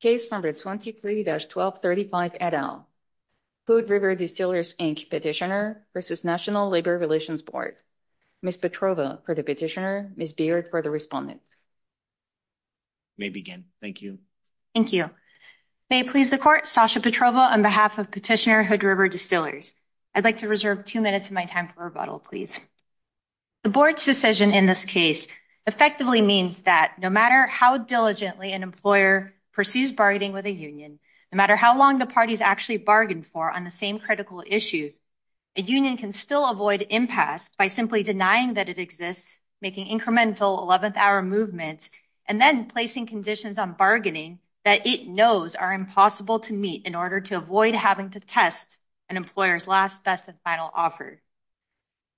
Case number 23-1235 et al. Hood River Distillers, Inc. Petitioner versus National Labor Relations Board. Ms. Petrova for the petitioner, Ms. Beard for the respondent. May begin, thank you. Thank you. May it please the court, Sasha Petrova on behalf of Petitioner Hood River Distillers. I'd like to reserve two minutes of my time for rebuttal, please. The board's decision in this effectively means that no matter how diligently an employer pursues bargaining with a union, no matter how long the parties actually bargain for on the same critical issues, a union can still avoid impasse by simply denying that it exists, making incremental 11th hour movements, and then placing conditions on bargaining that it knows are impossible to meet in order to avoid having to test an employer's last, best, and final offer.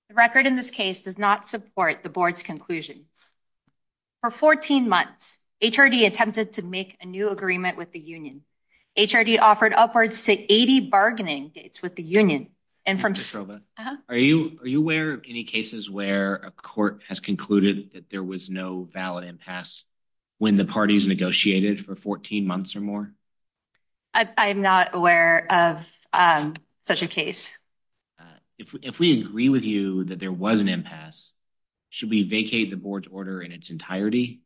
The record in this case does not support the board's conclusion. For 14 months, HRD attempted to make a new agreement with the union. HRD offered upwards to 80 bargaining dates with the union. Ms. Petrova, are you aware of any cases where a court has concluded that there was no valid impasse when the parties negotiated for 14 months or more? I'm not aware of such a case. If we agree with you that there was an impasse, should we vacate the board's order in its entirety?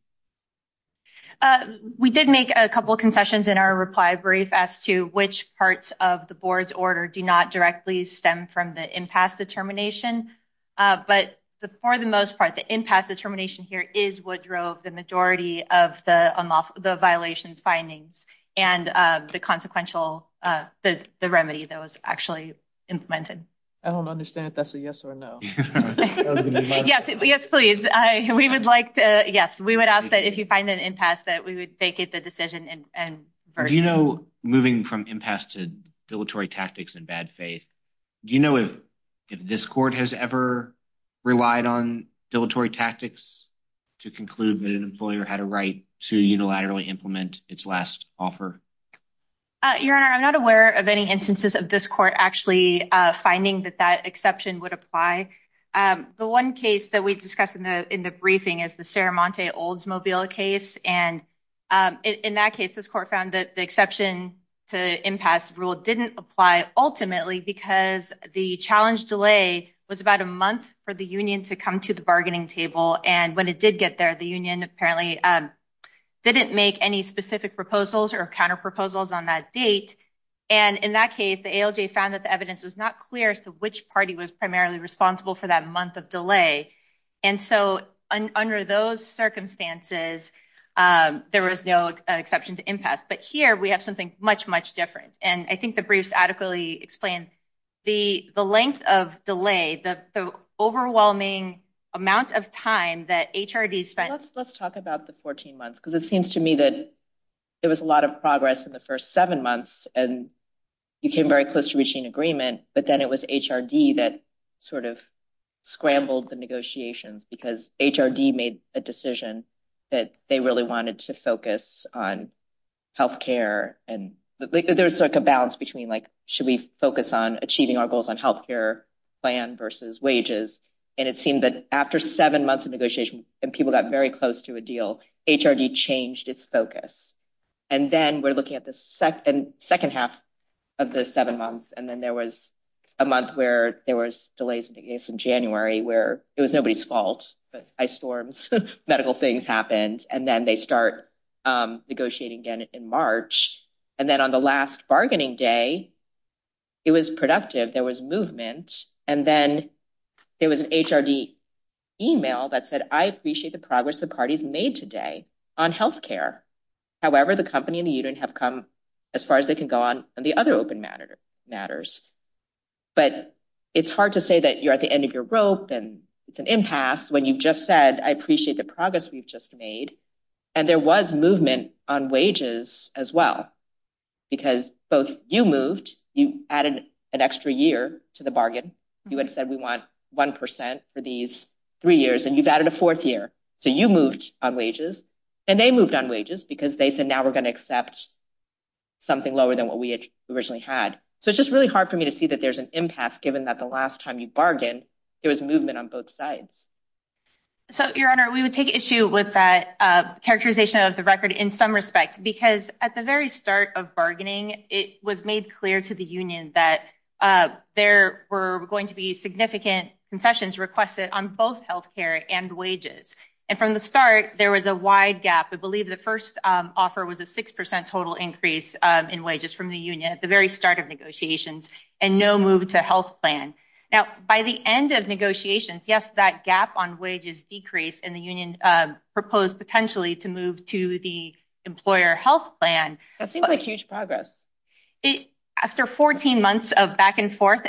We did make a couple concessions in our reply brief as to which parts of the board's order do not directly stem from the impasse determination, but for the most part, the impasse determination is what drove the majority of the violations findings and the remedy that was actually implemented. I don't understand if that's a yes or no. Yes, please. We would ask that if you find an impasse that we would vacate the decision. Do you know, moving from impasse to dilatory tactics and bad faith, do you know if this court has ever relied on dilatory tactics to conclude that an employer had a right to unilaterally implement its last offer? Your Honor, I'm not aware of any instances of this court actually finding that that exception would apply. The one case that we discussed in the briefing is the Saramonte Oldsmobile case, and in that case, this court found that the exception to impasse rule didn't apply ultimately because the challenge delay was about a month for the union to come to the bargaining table, and when it did get there, the union apparently didn't make any specific proposals or counterproposals on that date, and in that case, the ALJ found that the evidence was not clear as to which party was primarily responsible for that month of delay, and so under those circumstances, there was no exception to impasse. But here, we have something much, much different, and I think the briefs adequately explain the length of delay, the overwhelming amount of time that HRD spent. Let's talk about the 14 months because it seems to me that there was a lot of progress in the first seven months, and you came very close to reaching agreement, but then it was HRD that sort of scrambled the negotiations because HRD made a decision that they really wanted to focus on health care, and there's like a balance between like should we focus on achieving our goals on health care plan versus wages, and it seemed that after seven months of negotiation and people got very close to a deal, HRD changed its focus, and then we're looking at the second half of the seven months, and then there was a month where there was delays in January where it was nobody's fault, but ice storms, medical things happened, and then they start negotiating again in March, and then on the last bargaining day, it was productive. There was movement, and then there was an HRD email that said I appreciate the progress the parties made today on health care. However, the company and the other open matter matters, but it's hard to say that you're at the end of your rope and it's an impasse when you've just said I appreciate the progress we've just made, and there was movement on wages as well because both you moved. You added an extra year to the bargain. You had said we want one percent for these three years, and you've added a fourth year, so you moved on wages, and they moved on wages because they said now we're going to accept something lower than what we originally had, so it's just really hard for me to see that there's an impasse given that the last time you bargained, there was movement on both sides. So, your honor, we would take issue with that characterization of the record in some respects because at the very start of bargaining, it was made clear to the union that there were going to be significant concessions requested on both health care and wages, and from the start, there was a wide gap. I believe the first offer was a six percent total increase in wages from the union at the very start of negotiations and no move to health plan. Now, by the end of negotiations, yes, that gap on wages decreased, and the union proposed potentially to move to the employer health plan. That seems like huge progress. After 14 months of back and forth.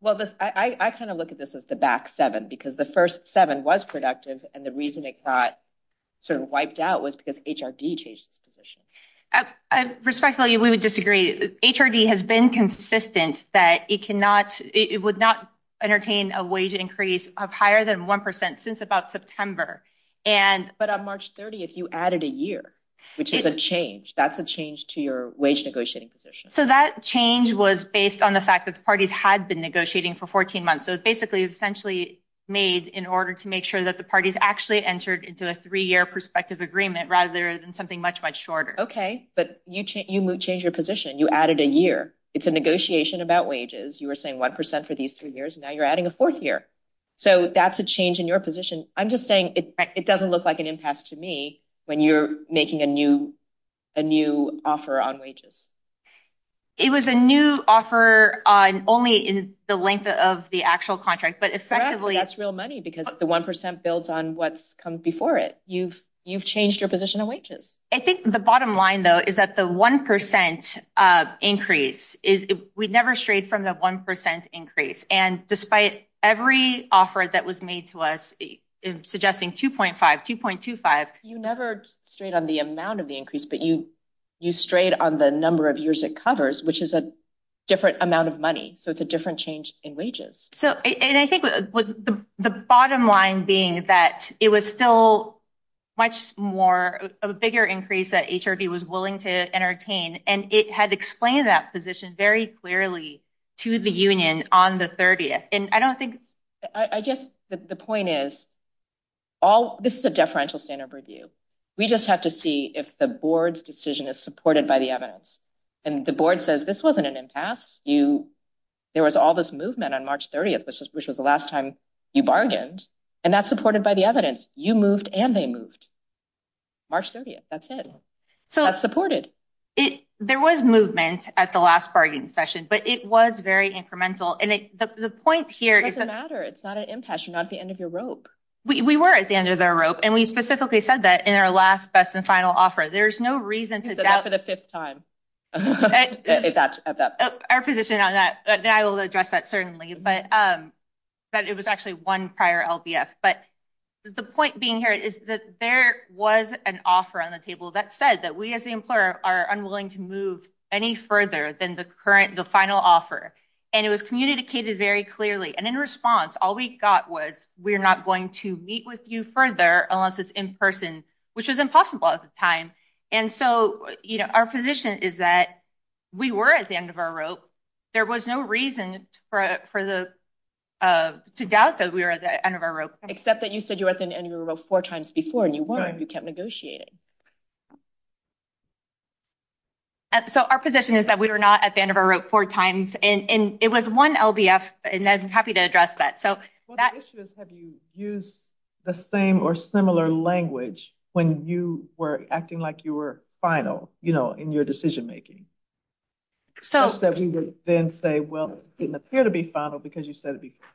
Well, I kind of look at this as the back seven because the first seven was productive, and the reason it got sort of wiped out was because HRD changed its position. Respectfully, we would disagree. HRD has been consistent that it would not entertain a wage increase of higher than one percent since about September. But on March 30th, you added a year, which is a change. That's a change to your wage negotiating position. So, that change was based on the fact that the parties had been negotiating for 14 months. So, it basically is essentially made in order to make sure that the parties actually entered into a three-year perspective agreement rather than something much, much shorter. Okay, but you changed your position. You added a year. It's a negotiation about wages. You were saying one percent for these three years. Now, you're adding a fourth year. So, that's a change in your position. I'm just saying it doesn't look like an impasse to me when you're making a new offer on wages. It was a new offer on only in the length of the actual contract, but effectively, that's real money because the one percent builds on what's come before it. You've changed your position of wages. I think the bottom line, though, is that the one percent increase, we'd never strayed from the one percent increase, and despite every offer that was made to us suggesting 2.5, 2.25. You never strayed on the amount of the increase, but you strayed on the number of years it covers, which is a different amount of money. So, it's a different change in wages. So, and I think the bottom line being that it was still much more, a bigger increase that HRD was willing to entertain, and it had explained that position very clearly to the union on the 30th, and I don't think it's... I guess the point is, this is a deferential standard review. We just have to see if the board's decision is supported by the evidence, and the board says, this wasn't an impasse. There was all this movement on March 30th, which was the last time you bargained, and that's supported by the evidence. You moved, and they moved. March 30th, that's it. So, that's supported. There was movement at the last bargaining session, but it was very incremental, and the point here is... It doesn't matter. It's not an impasse. You're not at the end of your rope. We were at the end of the rope, and we specifically said that in our last, best, and final offer. There's no reason to doubt... You said that for the fifth time at that point. Our position on that, and I will address that certainly, but it was actually one prior LBF, but the point being here is that there was an offer on the table that said that we, the employer, are unwilling to move any further than the final offer, and it was communicated very clearly, and in response, all we got was, we're not going to meet with you further unless it's in person, which was impossible at the time, and so, our position is that we were at the end of our rope. There was no reason to doubt that we were at the end of our rope. Except that you said you were at the end of your rope four times before, and you weren't. You kept negotiating. So, our position is that we were not at the end of our rope four times, and it was one LBF, and I'm happy to address that. Well, the issue is, have you used the same or similar language when you were acting like you were final, you know, in your decision-making, such that we would then say, well, it didn't appear to be final because you said it before?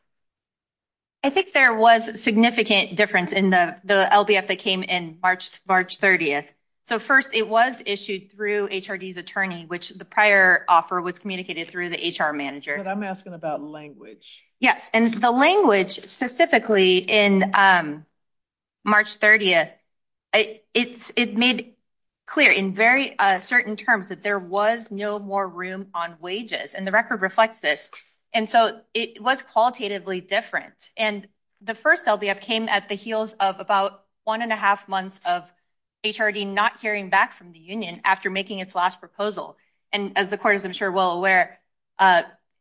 I think there was significant difference in the LBF that came in March 30th. So, first, it was issued through HRD's attorney, which the prior offer was communicated through the HR manager. But I'm asking about language. Yes, and the language specifically in March 30th, it made clear in very certain terms that there was no more room on wages, and the record reflects this. And so, it was qualitatively different. And the first LBF came at the heels of about one and a half months of HRD not hearing back from the union after making its last proposal. And as the court is, I'm sure, well aware,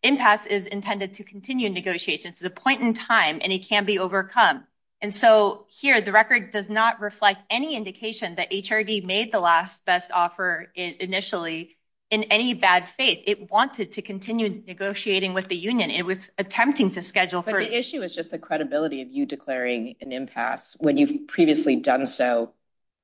impasse is intended to continue negotiations. It's a point in time, and it can be overcome. And so, here, the record does not reflect any indication that HRD made the last best offer initially in any bad faith. It wanted to continue negotiating with the union. It was attempting to schedule for- But the issue is just the credibility of you declaring an impasse when you've previously done so,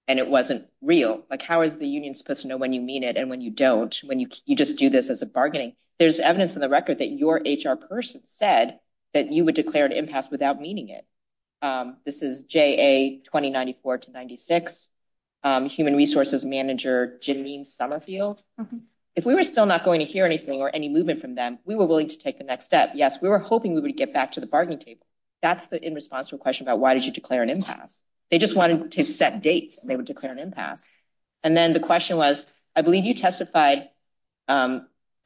and it wasn't real. How is the union supposed to know when you mean it and when you don't, when you just do this as a bargaining? There's evidence in the record that your HR person said that you would declare an impasse without meaning it. This is JA 2094-96, Human Resources Manager Janine Summerfield. If we were still not going to hear anything or any movement from them, we were willing to take the next step. Yes, we were hoping we would get back to the bargaining table. That's the in response to a question about why did you declare an impasse? They just wanted to set dates, and they would declare an impasse. And then the question was, I believe you testified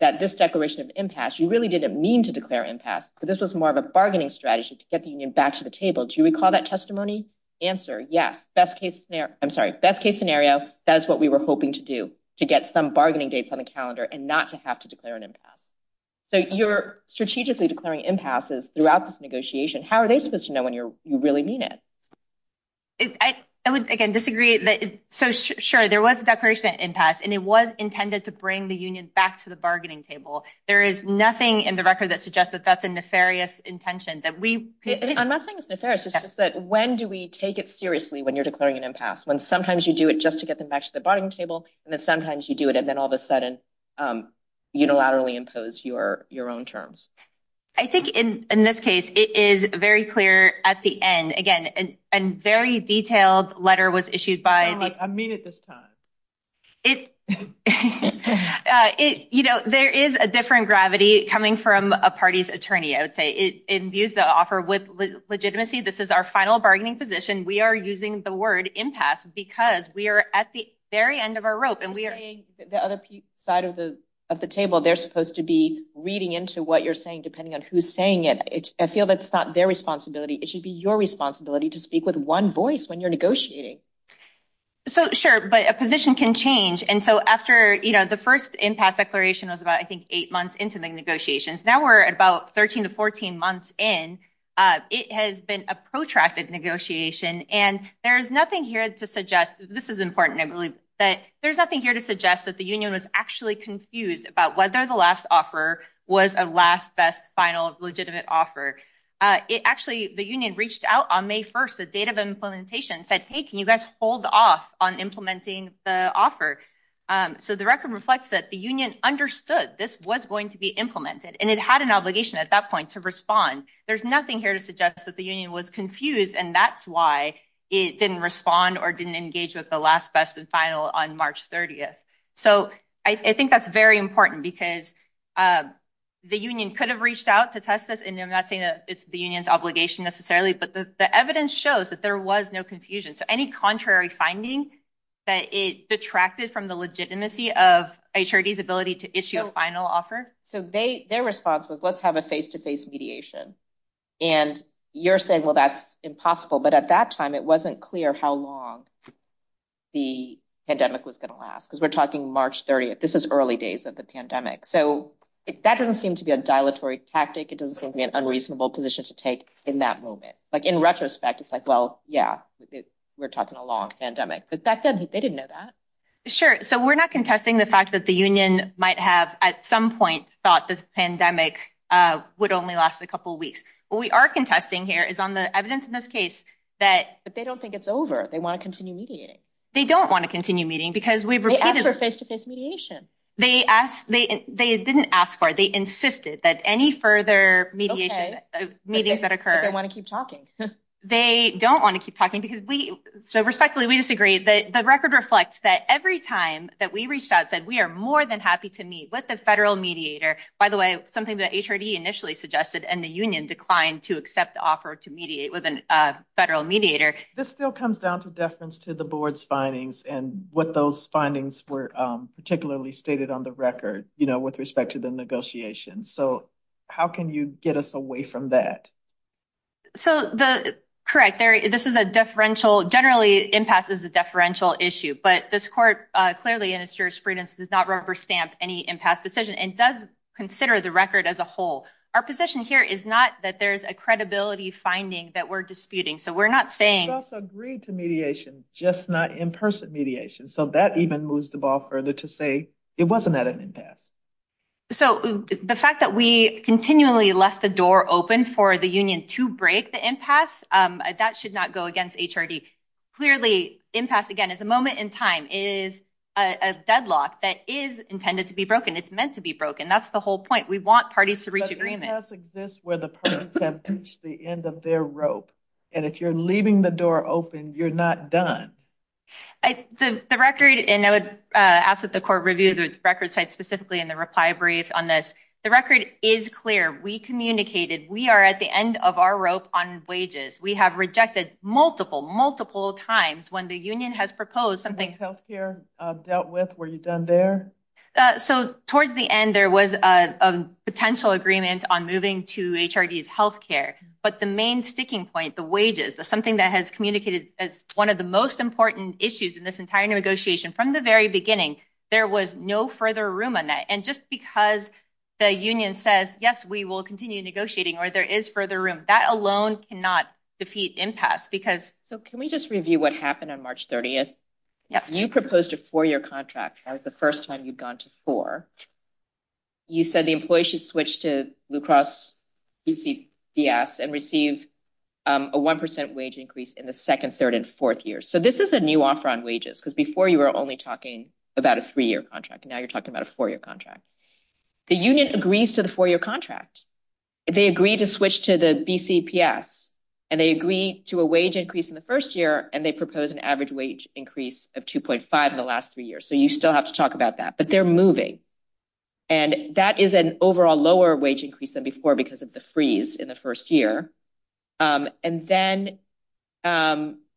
that this declaration of impasse, you really didn't mean to declare impasse, but this was more of a bargaining strategy to get the union back to the table. Do you recall that testimony? Answer, yes. Best case scenario. Best case scenario. That is what we were hoping to do, to get some bargaining dates on the calendar and not to have to declare an impasse. So you're strategically declaring impasses throughout this negotiation. How are they supposed to know when you really mean it? I would, again, disagree. So sure, there was a declaration of impasse, and it was intended to bring the union back to the bargaining table. There is nothing in the record that suggests that that's a nefarious intention. I'm not saying it's nefarious. It's just that when do we take it seriously when you're declaring an impasse? When sometimes you do it just to get them back to the bargaining table, and then sometimes you do it, and then all of a sudden unilaterally impose your own terms. I think in this case, it is very clear at the end. Again, a very detailed letter was issued by the- I mean it this time. There is a different gravity coming from a party's attorney, I would say. It imbues the with legitimacy. This is our final bargaining position. We are using the word impasse because we are at the very end of our rope, and we are- You're saying the other side of the table, they're supposed to be reading into what you're saying, depending on who's saying it. I feel that's not their responsibility. It should be your responsibility to speak with one voice when you're negotiating. So sure, but a position can change. And so after the first impasse declaration was about, I think, eight months into the negotiations. Now we're at about 13 to 14 months in. It has been a protracted negotiation, and there's nothing here to suggest- This is important, I believe. There's nothing here to suggest that the union was actually confused about whether the last offer was a last, best, final, legitimate offer. Actually, the union reached out on May 1st, the date of implementation, and said, hey, can you guys hold off on implementing the offer? So the record reflects that the union understood this was going to be implemented, and it had an obligation at that point to respond. There's nothing here to suggest that the union was confused, and that's why it didn't respond or didn't engage with the last, best, and final on March 30th. So I think that's very important, because the union could have reached out to test this, and I'm not saying that it's the union's obligation necessarily, but the evidence shows that there was no confusion. So any contrary finding that it detracted from the legitimacy of HRD's ability to issue a final offer? So their response was, let's have a face-to-face mediation, and you're saying, well, that's impossible. But at that time, it wasn't clear how long the pandemic was going to last, because we're talking March 30th. This is early days of the pandemic. So that doesn't seem to be a dilatory tactic. It doesn't seem to be an unreasonable position to take in that moment. In retrospect, it's like, well, yeah, we're talking a long pandemic. But back then, they didn't know that. Sure. So we're not contesting the fact that the union might have, at some point, thought the pandemic would only last a couple of weeks. What we are contesting here is on the evidence in this case that- But they don't think it's over. They want to continue mediating. They don't want to continue meeting, because we've repeated- They asked for face-to-face mediation. They didn't ask for it. They insisted that any further mediation, meetings that occur- But they want to keep talking. They don't want to keep talking, because we, so respectfully, we disagree. The record reflects that every time that we reached out, said we are more than happy to meet with the federal mediator. By the way, something that HRD initially suggested, and the union declined to accept the offer to mediate with a federal mediator. This still comes down to deference to the board's findings, and what those findings were particularly stated on the record, with respect to the negotiations. So how can you get us away from that? So the- Correct. This is a deferential- Generally, impasse is a deferential issue, but this court, clearly in its jurisprudence, does not rubber stamp any impasse decision, and does consider the record as a whole. Our position here is not that there's a credibility finding that we're disputing. So we're not saying- We just agreed to mediation, just not in-person mediation. So that even moves the ball further to say it wasn't at an impasse. So the fact that we continually left the door open for the union to break the impasse, that should not go against HRD. Clearly, impasse, again, is a moment in time. It is a deadlock that is intended to be broken. It's meant to be broken. That's the whole point. We want parties to reach agreement. But impasse exists where the parties have reached the end of their rope, and if you're leaving the door open, you're not done. The record, and I would ask that the court review the record site specifically in the reply brief on this. The record is clear. We communicated. We are at the end of our rope on wages. We have rejected multiple, multiple times when the union has proposed something- What healthcare dealt with were you done there? So towards the end, there was a potential agreement on moving to HRD's healthcare. But the main sticking point, the wages, is something that has communicated as one of the most important issues in this entire negotiation. From the very beginning, there was no further room on that. And just because the union says, yes, we will continue negotiating or there is further room, that alone cannot defeat impasse because- So can we just review what happened on March 30th? Yes. You proposed a four-year contract. That was the first time you'd gone to four. You said the employee should switch to Blue Cross BC BS and receive a 1% wage increase in the second, third, and fourth years. So this is a new offer on wages because before you were only talking about a three-year contract. Now you're talking about a four-year contract. The union agrees to the four-year contract. They agree to switch to the BC BS, and they agree to a wage increase in the first year, and they propose an average wage increase of 2.5 in the last three years. So you still have to talk about that, but they're moving. And that is an overall lower wage than before because of the freeze in the first year. And then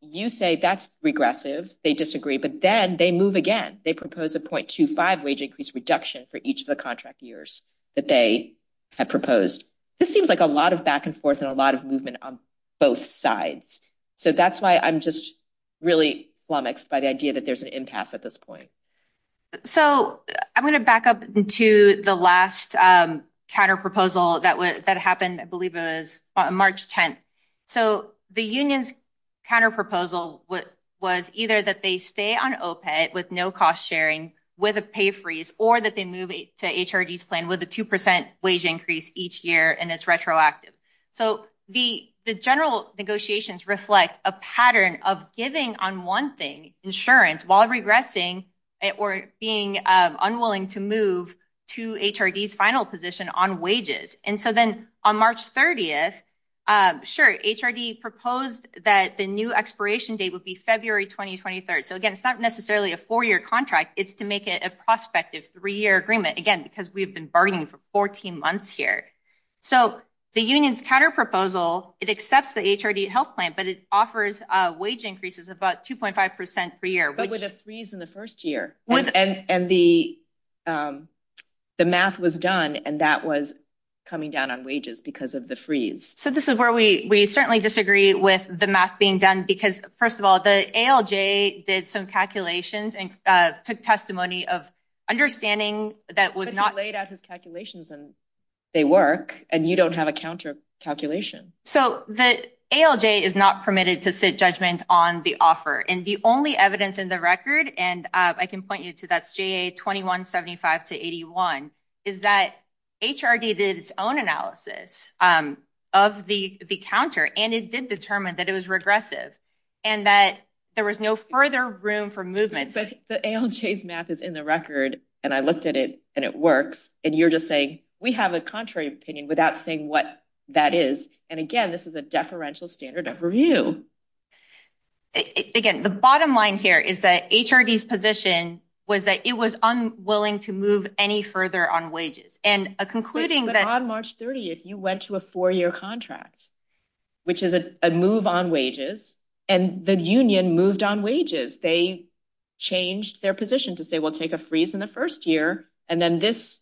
you say that's regressive. They disagree, but then they move again. They propose a 0.25 wage increase reduction for each of the contract years that they had proposed. This seems like a lot of back and forth and a lot of movement on both sides. So that's why I'm just really flummoxed by the idea that there's an impasse at this point. So I'm going to back up into the last counterproposal that happened, I believe it was March 10th. So the union's counterproposal was either that they stay on OPEC with no cost sharing with a pay freeze, or that they move to HRD's plan with a 2% wage increase each year, and it's retroactive. So the general negotiations reflect a pattern of giving on one thing, insurance, while regressing or being unwilling to move to HRD's final position on wages. And so then on March 30th, sure, HRD proposed that the new expiration date would be February 2023. So again, it's not necessarily a four-year contract, it's to make it a prospective three-year agreement, again, because we've been bargaining for 14 months here. So the union's counterproposal, it accepts the HRD health plan, but it offers wage increases of about 2.5% per year. But with a freeze in the first year, and the math was done, and that was coming down on wages because of the freeze. So this is where we certainly disagree with the math being done, because first of all, the ALJ did some calculations and took testimony of understanding that was not- But he laid out his calculations and they work, and you don't have a counter calculation. So the ALJ is not permitted to sit judgment on the offer. And the only evidence in the record, and I can point you to that's JA 2175-81, is that HRD did its own analysis of the counter, and it did determine that it was regressive, and that there was no further room for movement. But the ALJ's math is in the record, and I looked at it, and it works. And you're just saying, we have a contrary opinion without saying what that is. And again, this is a deferential standard of review. Again, the bottom line here is that HRD's position was that it was unwilling to move any further on wages. And concluding that- But on March 30th, you went to a four-year contract, which is a move on wages, and the union moved on wages. They changed their position to say, take a freeze in the first year, and then this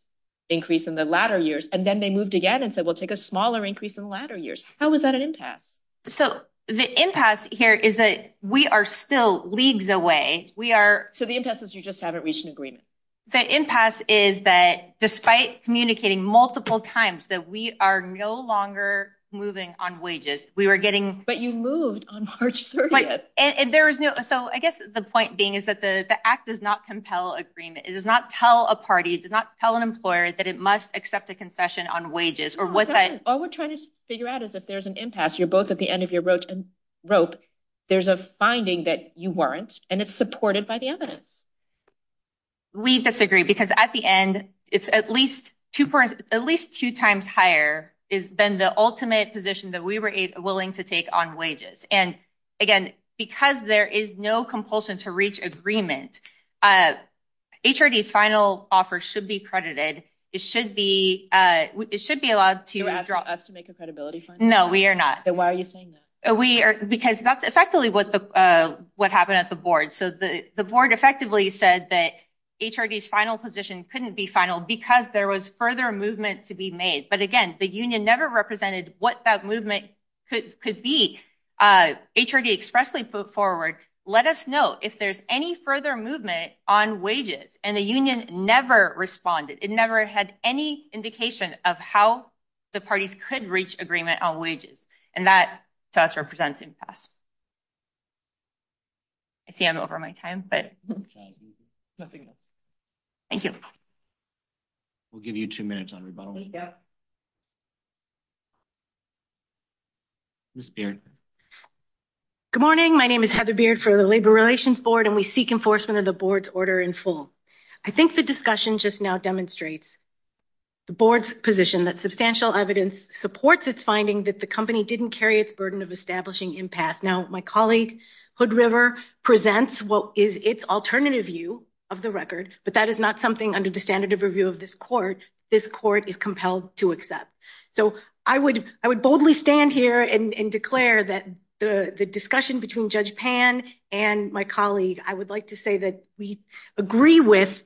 increase in the latter years. And then they moved again and said, we'll take a smaller increase in the latter years. How is that an impasse? So the impasse here is that we are still leagues away. We are- So the impasse is you just haven't reached an agreement. The impasse is that despite communicating multiple times that we are no longer moving on wages, we were getting- But you moved on March 30th. So I guess the point being is that the act does not compel agreement. It does not tell a party, it does not tell an employer that it must accept a concession on wages or what that- All we're trying to figure out is if there's an impasse, you're both at the end of your rope. There's a finding that you weren't, and it's supported by the evidence. We disagree because at the end, it's at least two times higher than the ultimate position that we were willing to take on wages. And again, because there is no compulsion to reach agreement, HRD's final offer should be credited. It should be allowed to- You're asking us to make a credibility fund? No, we are not. Then why are you saying that? We are- because that's effectively what happened at the board. So the board effectively said that HRD's final position couldn't be final because there was further movement to be made. But again, the union never represented what that movement could be. HRD expressly put forward, let us know if there's any further movement on wages, and the union never responded. It never had any indication of how the parties could reach agreement on wages, and that to us represents impasse. I see I'm over my time, but- Nothing else. Thank you. We'll give you two minutes on rebuttal. Yeah. Ms. Beard. Good morning. My name is Heather Beard for the Labor Relations Board, and we seek enforcement of the board's order in full. I think the discussion just now demonstrates the board's position that substantial evidence supports its finding that the company didn't carry its burden of establishing impasse. Now, my colleague Hood River presents what is its alternative view of the record, but that is not something under the standard of review of this court. This court is to accept. So I would boldly stand here and declare that the discussion between Judge Pan and my colleague, I would like to say that we agree with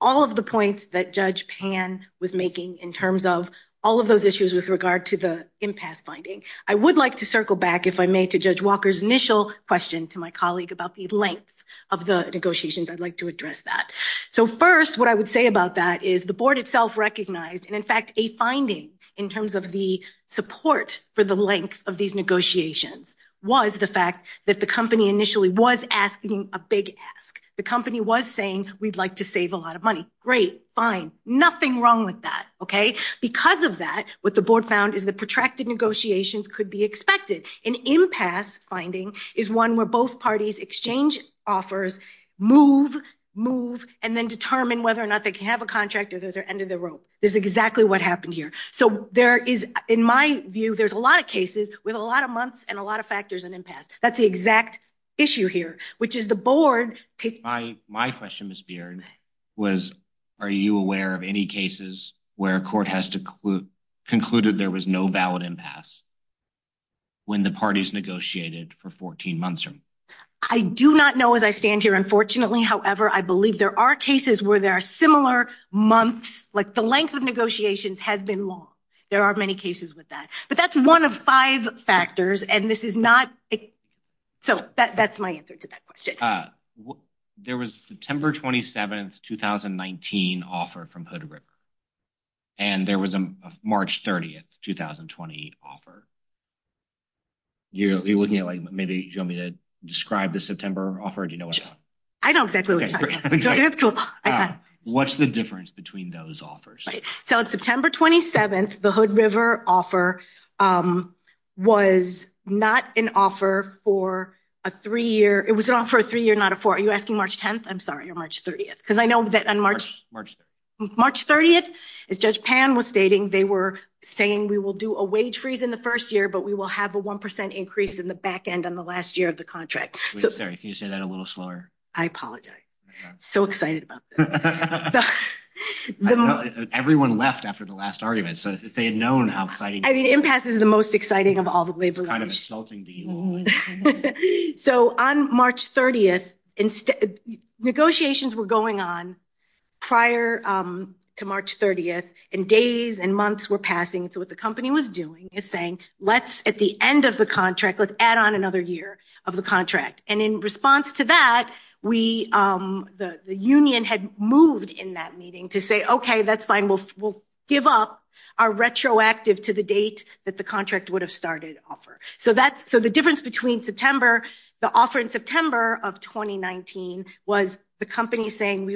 all of the points that Judge Pan was making in terms of all of those issues with regard to the impasse finding. I would like to circle back, if I may, to Judge Walker's initial question to my colleague about the length of the negotiations. I'd like to address that. So first, what I would say about that is the board itself recognized, and in fact, a finding in terms of the support for the length of these negotiations was the fact that the company initially was asking a big ask. The company was saying, we'd like to save a lot of money. Great. Fine. Nothing wrong with that. Okay. Because of that, what the board found is the protracted negotiations could be expected. An impasse finding is one where both parties exchange offers, move, move, and then determine whether or not they can have a contract at the end of the rope. This is exactly what happened here. So there is, in my view, there's a lot of cases with a lot of months and a lot of factors and impasse. That's the exact issue here, which is the board... My question, Ms. Beard, was are you aware of any cases where a court has concluded there was no valid impasse when the parties negotiated for 14 months? I do not know as I stand here, unfortunately. However, I believe there are cases where there are similar months, like the length of negotiations has been long. There are many cases with that. But that's one of five factors and this is not... So that's my answer to that question. There was September 27th, 2019 offer from Hood River. And there was a March 30th, 2020 offer. You're looking at like, maybe you want me to describe the September offer or do you know what I'm talking about? I know exactly what you're talking about. What's the difference between those offers? Right. So on September 27th, the Hood River offer was not an offer for a three-year... It was an offer for a three-year, not a four. Are you asking March 10th? I'm sorry, March 30th. Because I know that on March 30th, as Judge Pan was stating, they were saying we will do a wage freeze in the first year, but we will have a 1% increase in the back end on the last year of the contract. Sorry, can you say that a little slower? I apologize. I'm so excited about this. Everyone left after the last argument. So they had known how exciting... I mean, impasse is the most exciting of all the labor laws. So on March 30th, negotiations were going on prior to March 30th and days and months were passing. So what the company was doing is saying, at the end of the contract, let's add on another year of the contract. And in response to that, the union had moved in that meeting to say, okay, that's fine. We'll give up our retroactive to the date that the contract would have started offer. So the difference between the offer in September of 2019 was the company saying,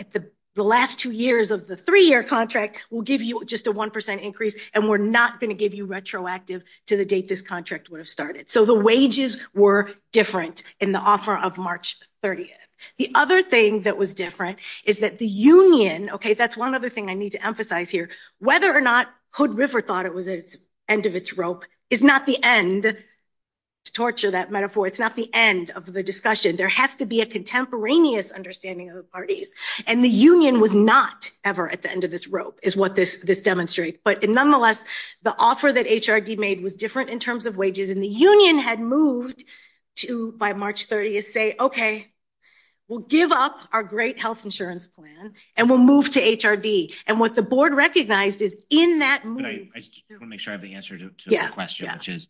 at the last two years of the three-year contract, we'll give you just a 1% increase and we're not going to give you retroactive to the date this contract would have started. So the wages were different in the offer of March 30th. The other thing that was different is that the union, okay, that's one other thing I need to emphasize here. Whether or not Hood River thought it was at its end of its rope is not the end, to torture that metaphor, it's not the end of the discussion. There has to be a contemporaneous understanding of the parties. And the union was not ever at the end of this rope is what this demonstrates. But nonetheless, the offer that HRD made was different in terms of wages. And the union had moved to, by March 30th, say, okay, we'll give up our great health insurance plan and we'll move to HRD. And what the board recognized is in that- I just want to make sure I have the answer to the question, which is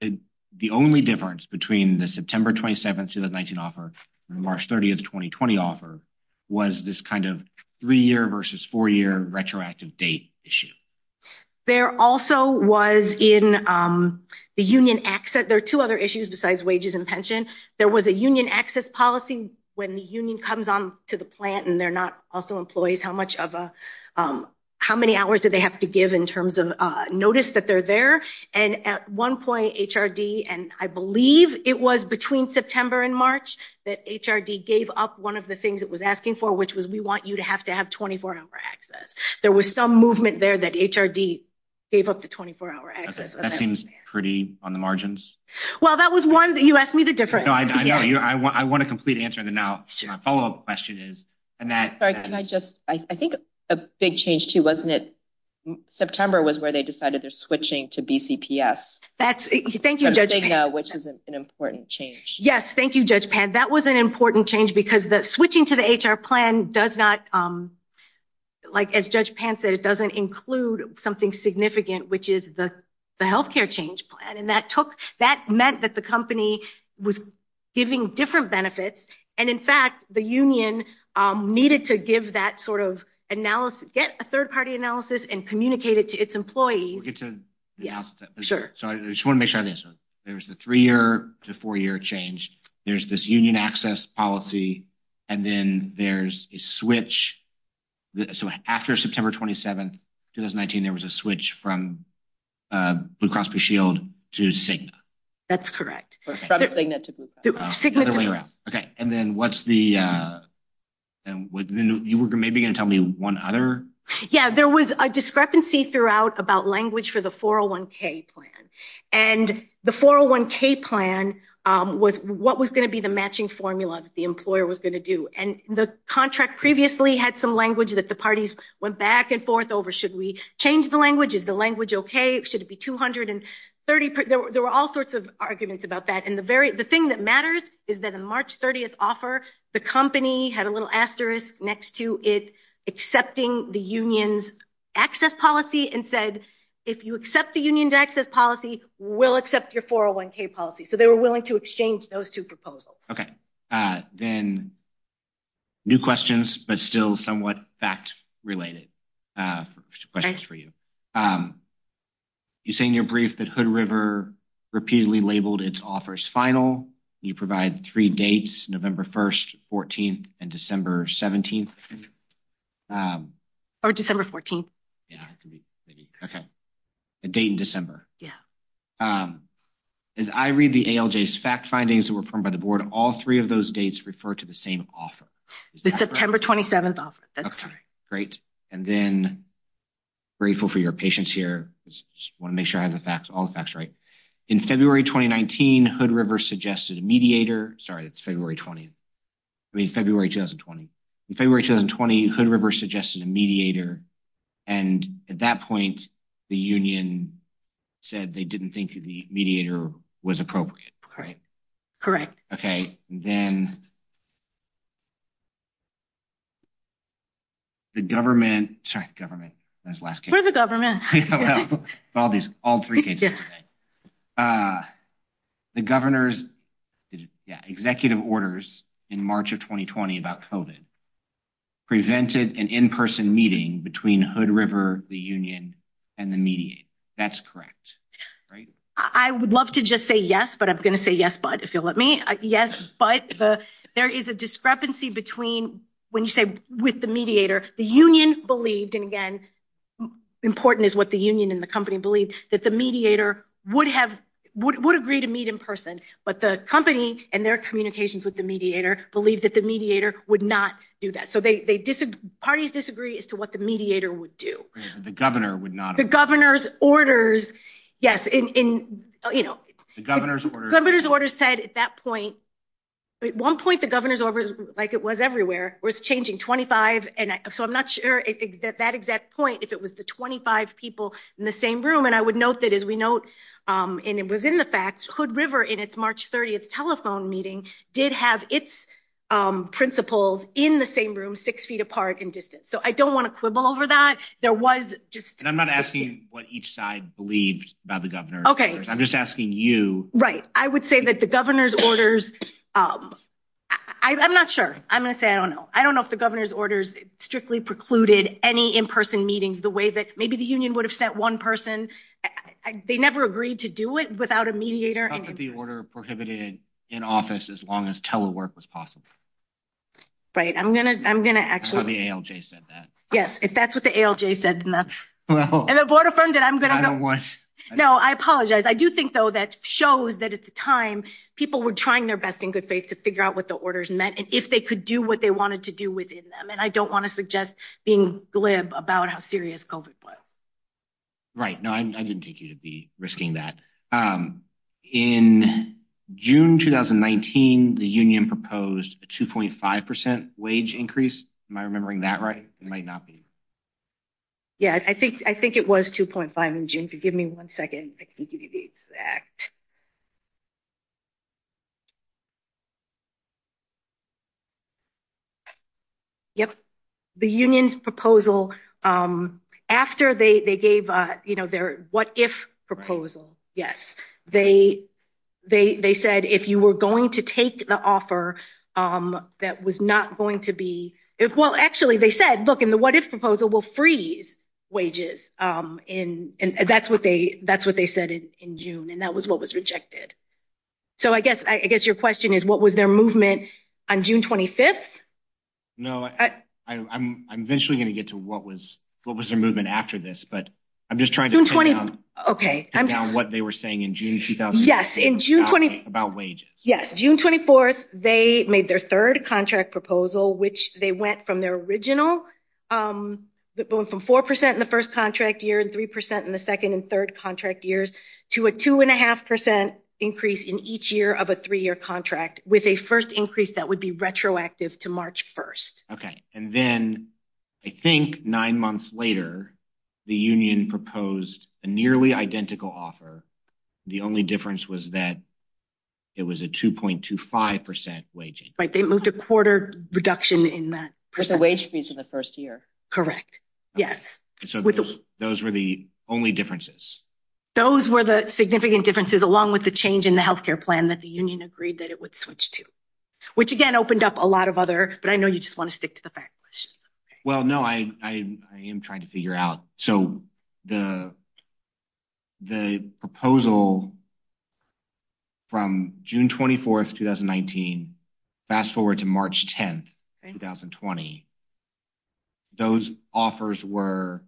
the only difference between the September 27th, 2019 offer and March 30th, 2020 offer was this kind of three-year versus four-year retroactive date issue. There also was in the union access- there are two other issues besides wages and pension. There was a union access policy when the union comes on to the plant and they're not also employees, how many hours do they have to give in terms of notice that they're there? And at one point, HRD, and I believe it was between September and March that HRD gave up one of the things it was asking for, which was, we want you to have to have 24-hour access. There was some movement there that HRD gave up the 24-hour access. That seems pretty on the margins. Well, that was one that you asked me the difference. No, I know. I want a complete answer in the now. My follow-up question is, and that- Sorry, can I just- I think a big change too, wasn't it? September was where they decided they're switching to BCPS. Thank you, Judge Pan. Which is an important change. Yes, thank you, Judge Pan. That was an important change because switching to the HR plan does not, like as Judge Pan said, it doesn't include something significant, which is the healthcare change plan. And that took- that meant that the company was giving different benefits. And in fact, the union needed to give that sort of analysis, get a third-party analysis and communicate it to its employees. We'll get to the analysis. Sure. So I just want to make sure I have this. There was the three-year to four-year change. There's this union access policy, and then there's a switch. So after September 27th, 2019, there was a switch from Blue Cross Blue Shield to Cigna. That's correct. From Cigna to Blue Cross. Cigna to- Okay. And then what's the- you were maybe going to tell me one other- Yeah, there was a discrepancy throughout about language for the 401k plan. And the 401k plan was what was going to be the matching formula that the employer was going to do. And the contract previously had some language that the parties went back and forth over. Should we change the language? Is the language okay? Should it be 230? There were all sorts of arguments about that. And the very- the thing that matters is that the March 30th offer, the company had a little asterisk next to it accepting the union's access policy and said, if you accept the union's access policy, we'll accept your 401k policy. So they were willing to exchange those two proposals. Okay. Then new questions, but still somewhat fact-related questions for you. You say in your brief that Hood River repeatedly labeled its offers final. You provide three dates, November 1st, 14th, and December 17th. Or December 14th. Yeah. Okay. A date in December. Yeah. As I read the ALJ's fact findings that were formed by the board, all three of those dates refer to the same offer. The September 27th offer. That's correct. Great. And then, grateful for your patience here. Just want to make sure I have the facts, all the facts right. In February 2019, Hood River suggested a mediator. Sorry, that's February 20th. I mean, February 2020. In February 2020, Hood River suggested a mediator. And at that point, the union said they didn't think the mediator was appropriate. Correct. Correct. Okay. Then the government- sorry, government. That was the last case. We're the government. Well, all three cases. The governor's executive orders in March of 2020 about COVID prevented an in-person meeting between Hood River, the union, and the mediator. That's correct. I would love to just say yes, but I'm going to say yes, but if you'll let me. Yes, but there is a discrepancy between when you say with the mediator, the union believed, and again, important is what the union and the company believed, that the mediator would agree to meet in person, but the company and their communications with the mediator believed that the mediator would not do that. So, parties disagree as to what the mediator would do. The governor would not- The governor's orders, yes. The governor's orders- Governor's orders said at that point, at one point, the governor's orders, like it was was changing 25. So, I'm not sure at that exact point if it was the 25 people in the same room, and I would note that as we note, and it was in the facts, Hood River in its March 30th telephone meeting did have its principals in the same room, six feet apart in distance. So, I don't want to quibble over that. There was just- I'm not asking what each side believed about the governor. Okay. I'm just asking you. Right. I would say that the governor's orders- I'm not sure. I'm going to say I don't know. I don't know if the governor's orders strictly precluded any in-person meetings the way that maybe the union would have sent one person. They never agreed to do it without a mediator. I thought that the order prohibited in office as long as telework was possible. Right. I'm going to actually- That's how the ALJ said that. Yes. If that's what the ALJ said, then that's- And the board affirmed it. I'm going to- I don't want- No, I apologize. I do think, though, that shows that at the time, people were trying their best in good faith to figure out what the orders meant and if they could do what they wanted to do within them. And I don't want to suggest being glib about how serious COVID was. Right. No, I didn't take you to be risking that. In June 2019, the union proposed a 2.5% wage increase. Am I remembering that right? It might not be. Yeah. I think it was 2.5% in June. If you give me one second, I can give you the exact- Yep. The union's proposal, after they gave their what-if proposal, yes, they said, if you were going to take the offer that was not going to be- Well, actually, they said, the what-if proposal will freeze wages. And that's what they said in June, and that was what was rejected. So, I guess your question is, what was their movement on June 25th? No, I'm eventually going to get to what was their movement after this, but I'm just trying to- June 20- Okay. Get down what they were saying in June 20- Yes. In June 20- About wages. Yes. June 24th, they made their third contract proposal, which they went from their original, that went from 4% in the first contract year and 3% in the second and third contract years, to a 2.5% increase in each year of a three-year contract, with a first increase that would be retroactive to March 1st. Okay. And then, I think nine months later, the union proposed a nearly identical offer. The only difference was that it was a 2.25% wage increase. They moved a quarter reduction in that- With the wage freeze in the first year. Correct. Yes. Those were the only differences? Those were the significant differences, along with the change in the health care plan that the union agreed that it would switch to, which, again, opened up a lot of other- But I know you just want to stick to the fact question. Well, no. I am trying to figure out. So, the proposal from June 24th, 2019, fast forward to March 10th, 2020, those offers were-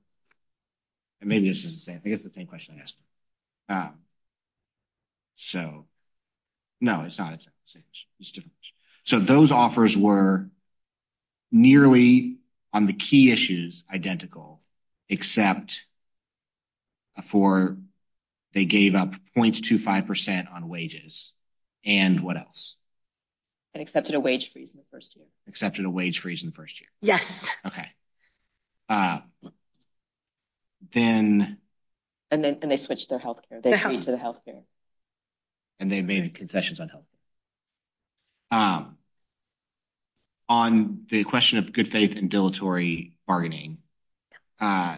And maybe this is the same. I think it's the same question I asked. So, no, it's not. It's different. So, those offers were nearly, on the key issues, identical, except for they gave up 0.25% on wages. And what else? And accepted a wage freeze in the first year. Accepted a wage freeze in the first year. Yes. Okay. Then- And they switched their health care. They agreed to the health care. And they made concessions on health care. On the question of good faith and dilatory bargaining, the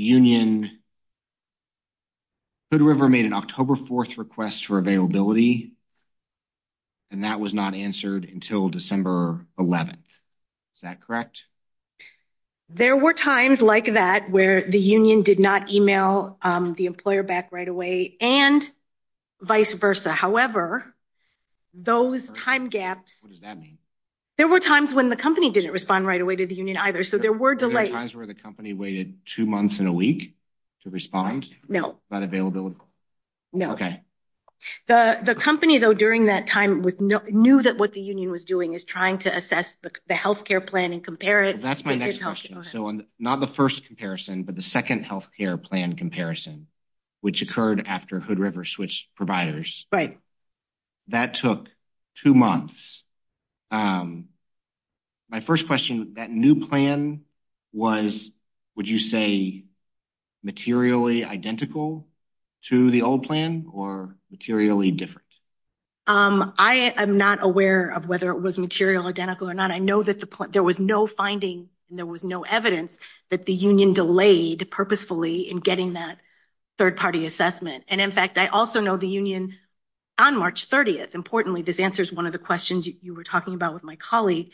union, Hood River made an October 4th request for availability, and that was not answered until December 11th. Is that correct? There were times like that where the union did not email the employer back right away, and vice versa. However, those time gaps- What does that mean? There were times when the company didn't respond right away to the union either. So, there were delays. There were times where the company waited two months and a week to respond? No. About availability? No. Okay. The company, though, during that time knew that what the union was doing is trying to assess the health care plan and compare it- That's my next question. So, not the first comparison, but the second health care plan comparison, which occurred after Hood River switched providers. Right. That took two months. My first question, that new plan was, would you say, materially identical to the old plan or materially different? I am not aware of whether it was material identical or not. I know that there was no finding and there was no evidence that the union delayed purposefully in getting that third-party assessment. And, in fact, I also know the union on March 30th- Importantly, this answers one of the questions you were talking about with my colleague.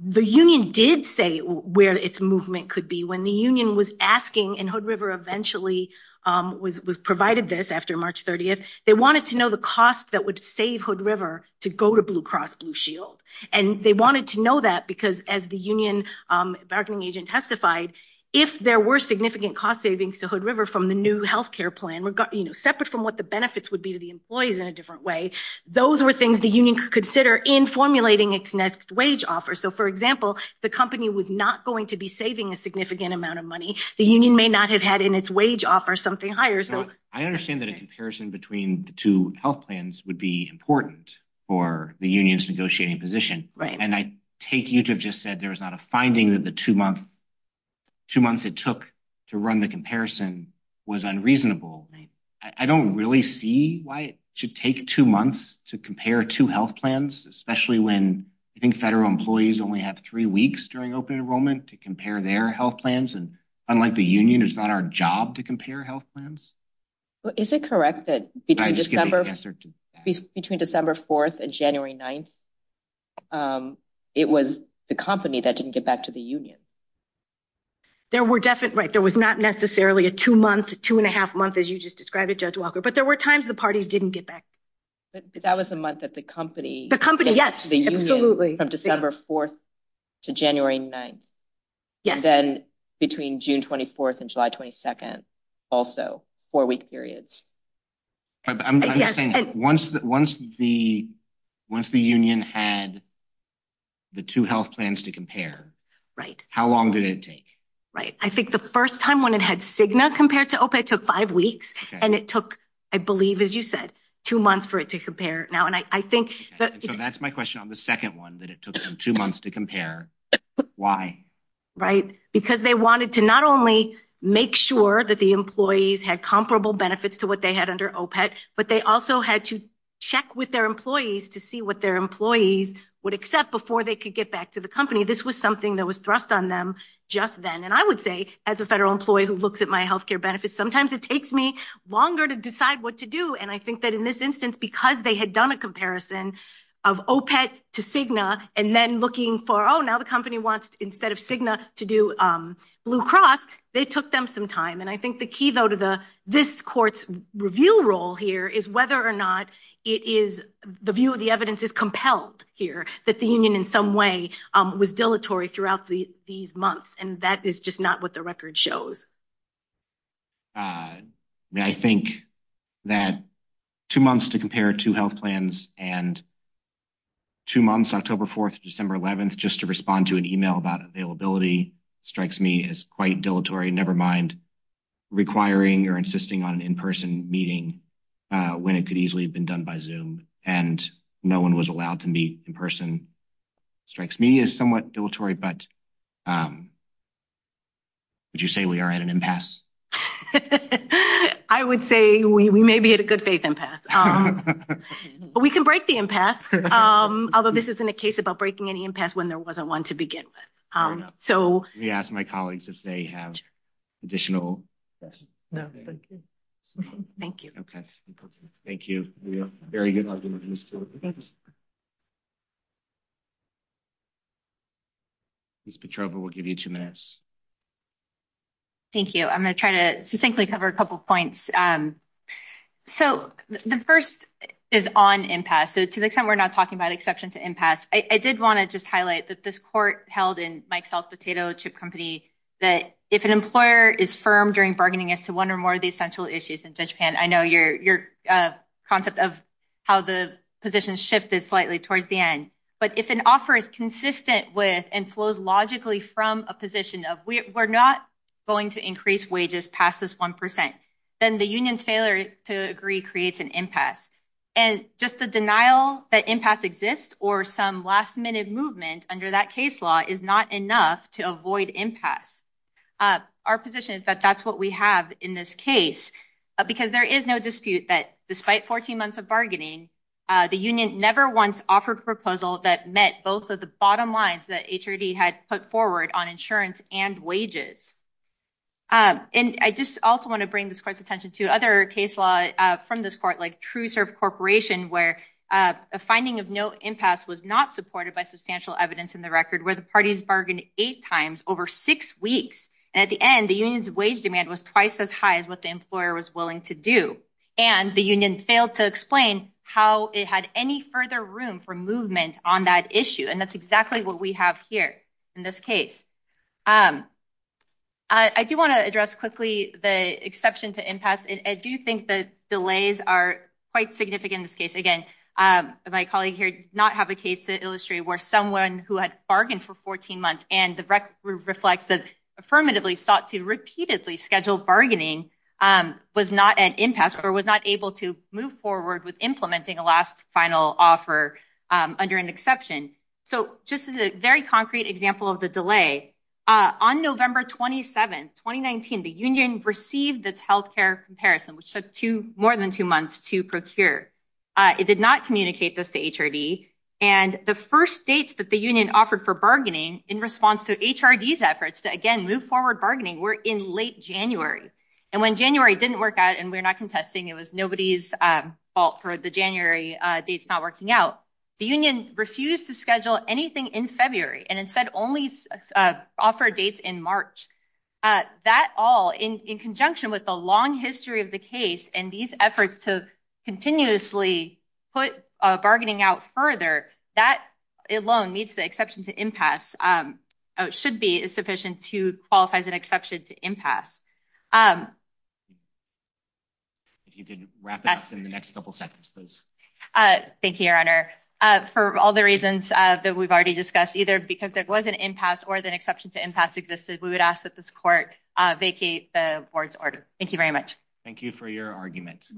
The union did say where its movement could be. When the union was asking, and Hood River eventually provided this after March 30th, they wanted to know the cost that would save Hood River to go to Blue Cross Blue Shield. And they wanted to know that because, as the union bargaining agent testified, if there were significant cost savings to Hood River from the new health care plan, separate from what the benefits would be to the employees in a different way, those were things the union could consider in formulating its next wage offer. So, for example, the company was not going to be saving a significant amount of money. The union may not have had in its wage offer something higher. So, I understand that a comparison between the two health plans would be important for the union's negotiating position. And I take you to have just said there was not a finding that the two months it took to run the comparison was unreasonable. I don't really see why it should take two months to compare two health plans, especially when I think federal employees only have three weeks during open enrollment to compare their health plans. And unlike the union, it's not our job to compare health plans. Is it correct that between December 4th and January 9th, it was the company that didn't get back to the union? There were definitely, right, there was not necessarily a two-month, two-and-a-half month, as you just described it, Judge Walker, but there were times the parties didn't get back. That was a month that the company. The company, yes, absolutely. From December 4th to January 9th. Yes. Then between June 24th and July 22nd, also four-week periods. But I'm just saying, once the union had the two health plans to compare, how long did it take? Right. I think the first time when it had Cigna compared to OPEC, it took five weeks, and it took, I believe, as you said, two months for it to compare. Now, and I think- So that's my question on the second one, that it took two months to compare. Why? Right. Because they wanted to not only make sure that the employees had comparable benefits to they had under OPEC, but they also had to check with their employees to see what their employees would accept before they could get back to the company. This was something that was thrust on them just then. And I would say, as a federal employee who looks at my health care benefits, sometimes it takes me longer to decide what to do. And I think that in this instance, because they had done a comparison of OPEC to Cigna, and then looking for, oh, now the company wants, instead of Cigna, to do Blue Cross, they took them some time. And I think the key, though, to this court's review role here is whether or not the view of the evidence is compelled here, that the union in some way was dilatory throughout these months. And that is just not what the record shows. I think that two months to compare two health plans and two months, October 4th to December 11th, just to respond to an email about availability strikes me as quite dilatory, never mind requiring or insisting on an in-person meeting when it could easily have been done by Zoom. And no one was allowed to meet in person strikes me as somewhat dilatory. But would you say we are at an impasse? I would say we may be at a good faith impasse. But we can break the impasse, although this isn't a case about breaking any impasse when there wasn't one to begin with. Let me ask my colleagues if they have additional questions. Thank you. Thank you. Ms. Petrova, we'll give you two minutes. Thank you. I'm going to try to succinctly cover a couple of points. So the first is on impasse. So to the extent we're not talking about exception to impasse, I did want to just highlight that this court held in Mike Sell's potato chip company, that if an employer is firm during bargaining as to one or more of the essential issues in Japan, I know your concept of how the position shifted slightly towards the end. But if an offer is consistent with and flows logically from a position of we're not going to increase wages past this 1%, then the union's failure to agree creates an impasse. And just the denial that impasse exists or some last minute movement under that case law is not enough to avoid impasse. Our position is that that's what we have in this case, because there is no dispute that despite 14 months of bargaining, the union never once offered a proposal that met both of the bottom lines that HRD had put forward on insurance and wages. And I just also want to bring this court's attention to other case law from this court, like TrueServe Corporation, where a finding of no impasse was not supported by substantial evidence in the record, where the parties bargained eight times over six weeks. And at the end, the union's wage demand was twice as high as what the employer was willing to do. And the union failed to explain how it had any further room for movement on that issue. And that's exactly what we have here in this case. I do want to address quickly the exception to impasse. I do think the delays are quite significant in this case. Again, my colleague here did not have a case to illustrate where someone who had bargained for 14 months and the record reflects that affirmatively sought to repeatedly schedule bargaining was not at impasse or was not able to move forward with implementing a last final offer under an exception. So just as a very concrete example of the delay, on November 27, 2019, the union received its health care comparison, which took more than two months to procure. It did not communicate this to HRD. And the first dates that the union offered for bargaining in response to HRD's efforts to, again, move forward bargaining were in late January. And when January didn't work out and we're not contesting, it was nobody's fault for the January dates not working out. The union refused to schedule anything in February and instead only offer dates in March. That all, in conjunction with the long history of the case and these efforts to continuously put bargaining out further, that alone meets the exception to impasse. It should be sufficient to qualify as an exception to impasse. If you could wrap it up in the next couple seconds, please. Thank you, Your Honor. For all the reasons that we've already discussed, either because there was an impasse or the exception to impasse existed, we would ask that this court vacate the board's order. Thank you very much. Thank you for your argument.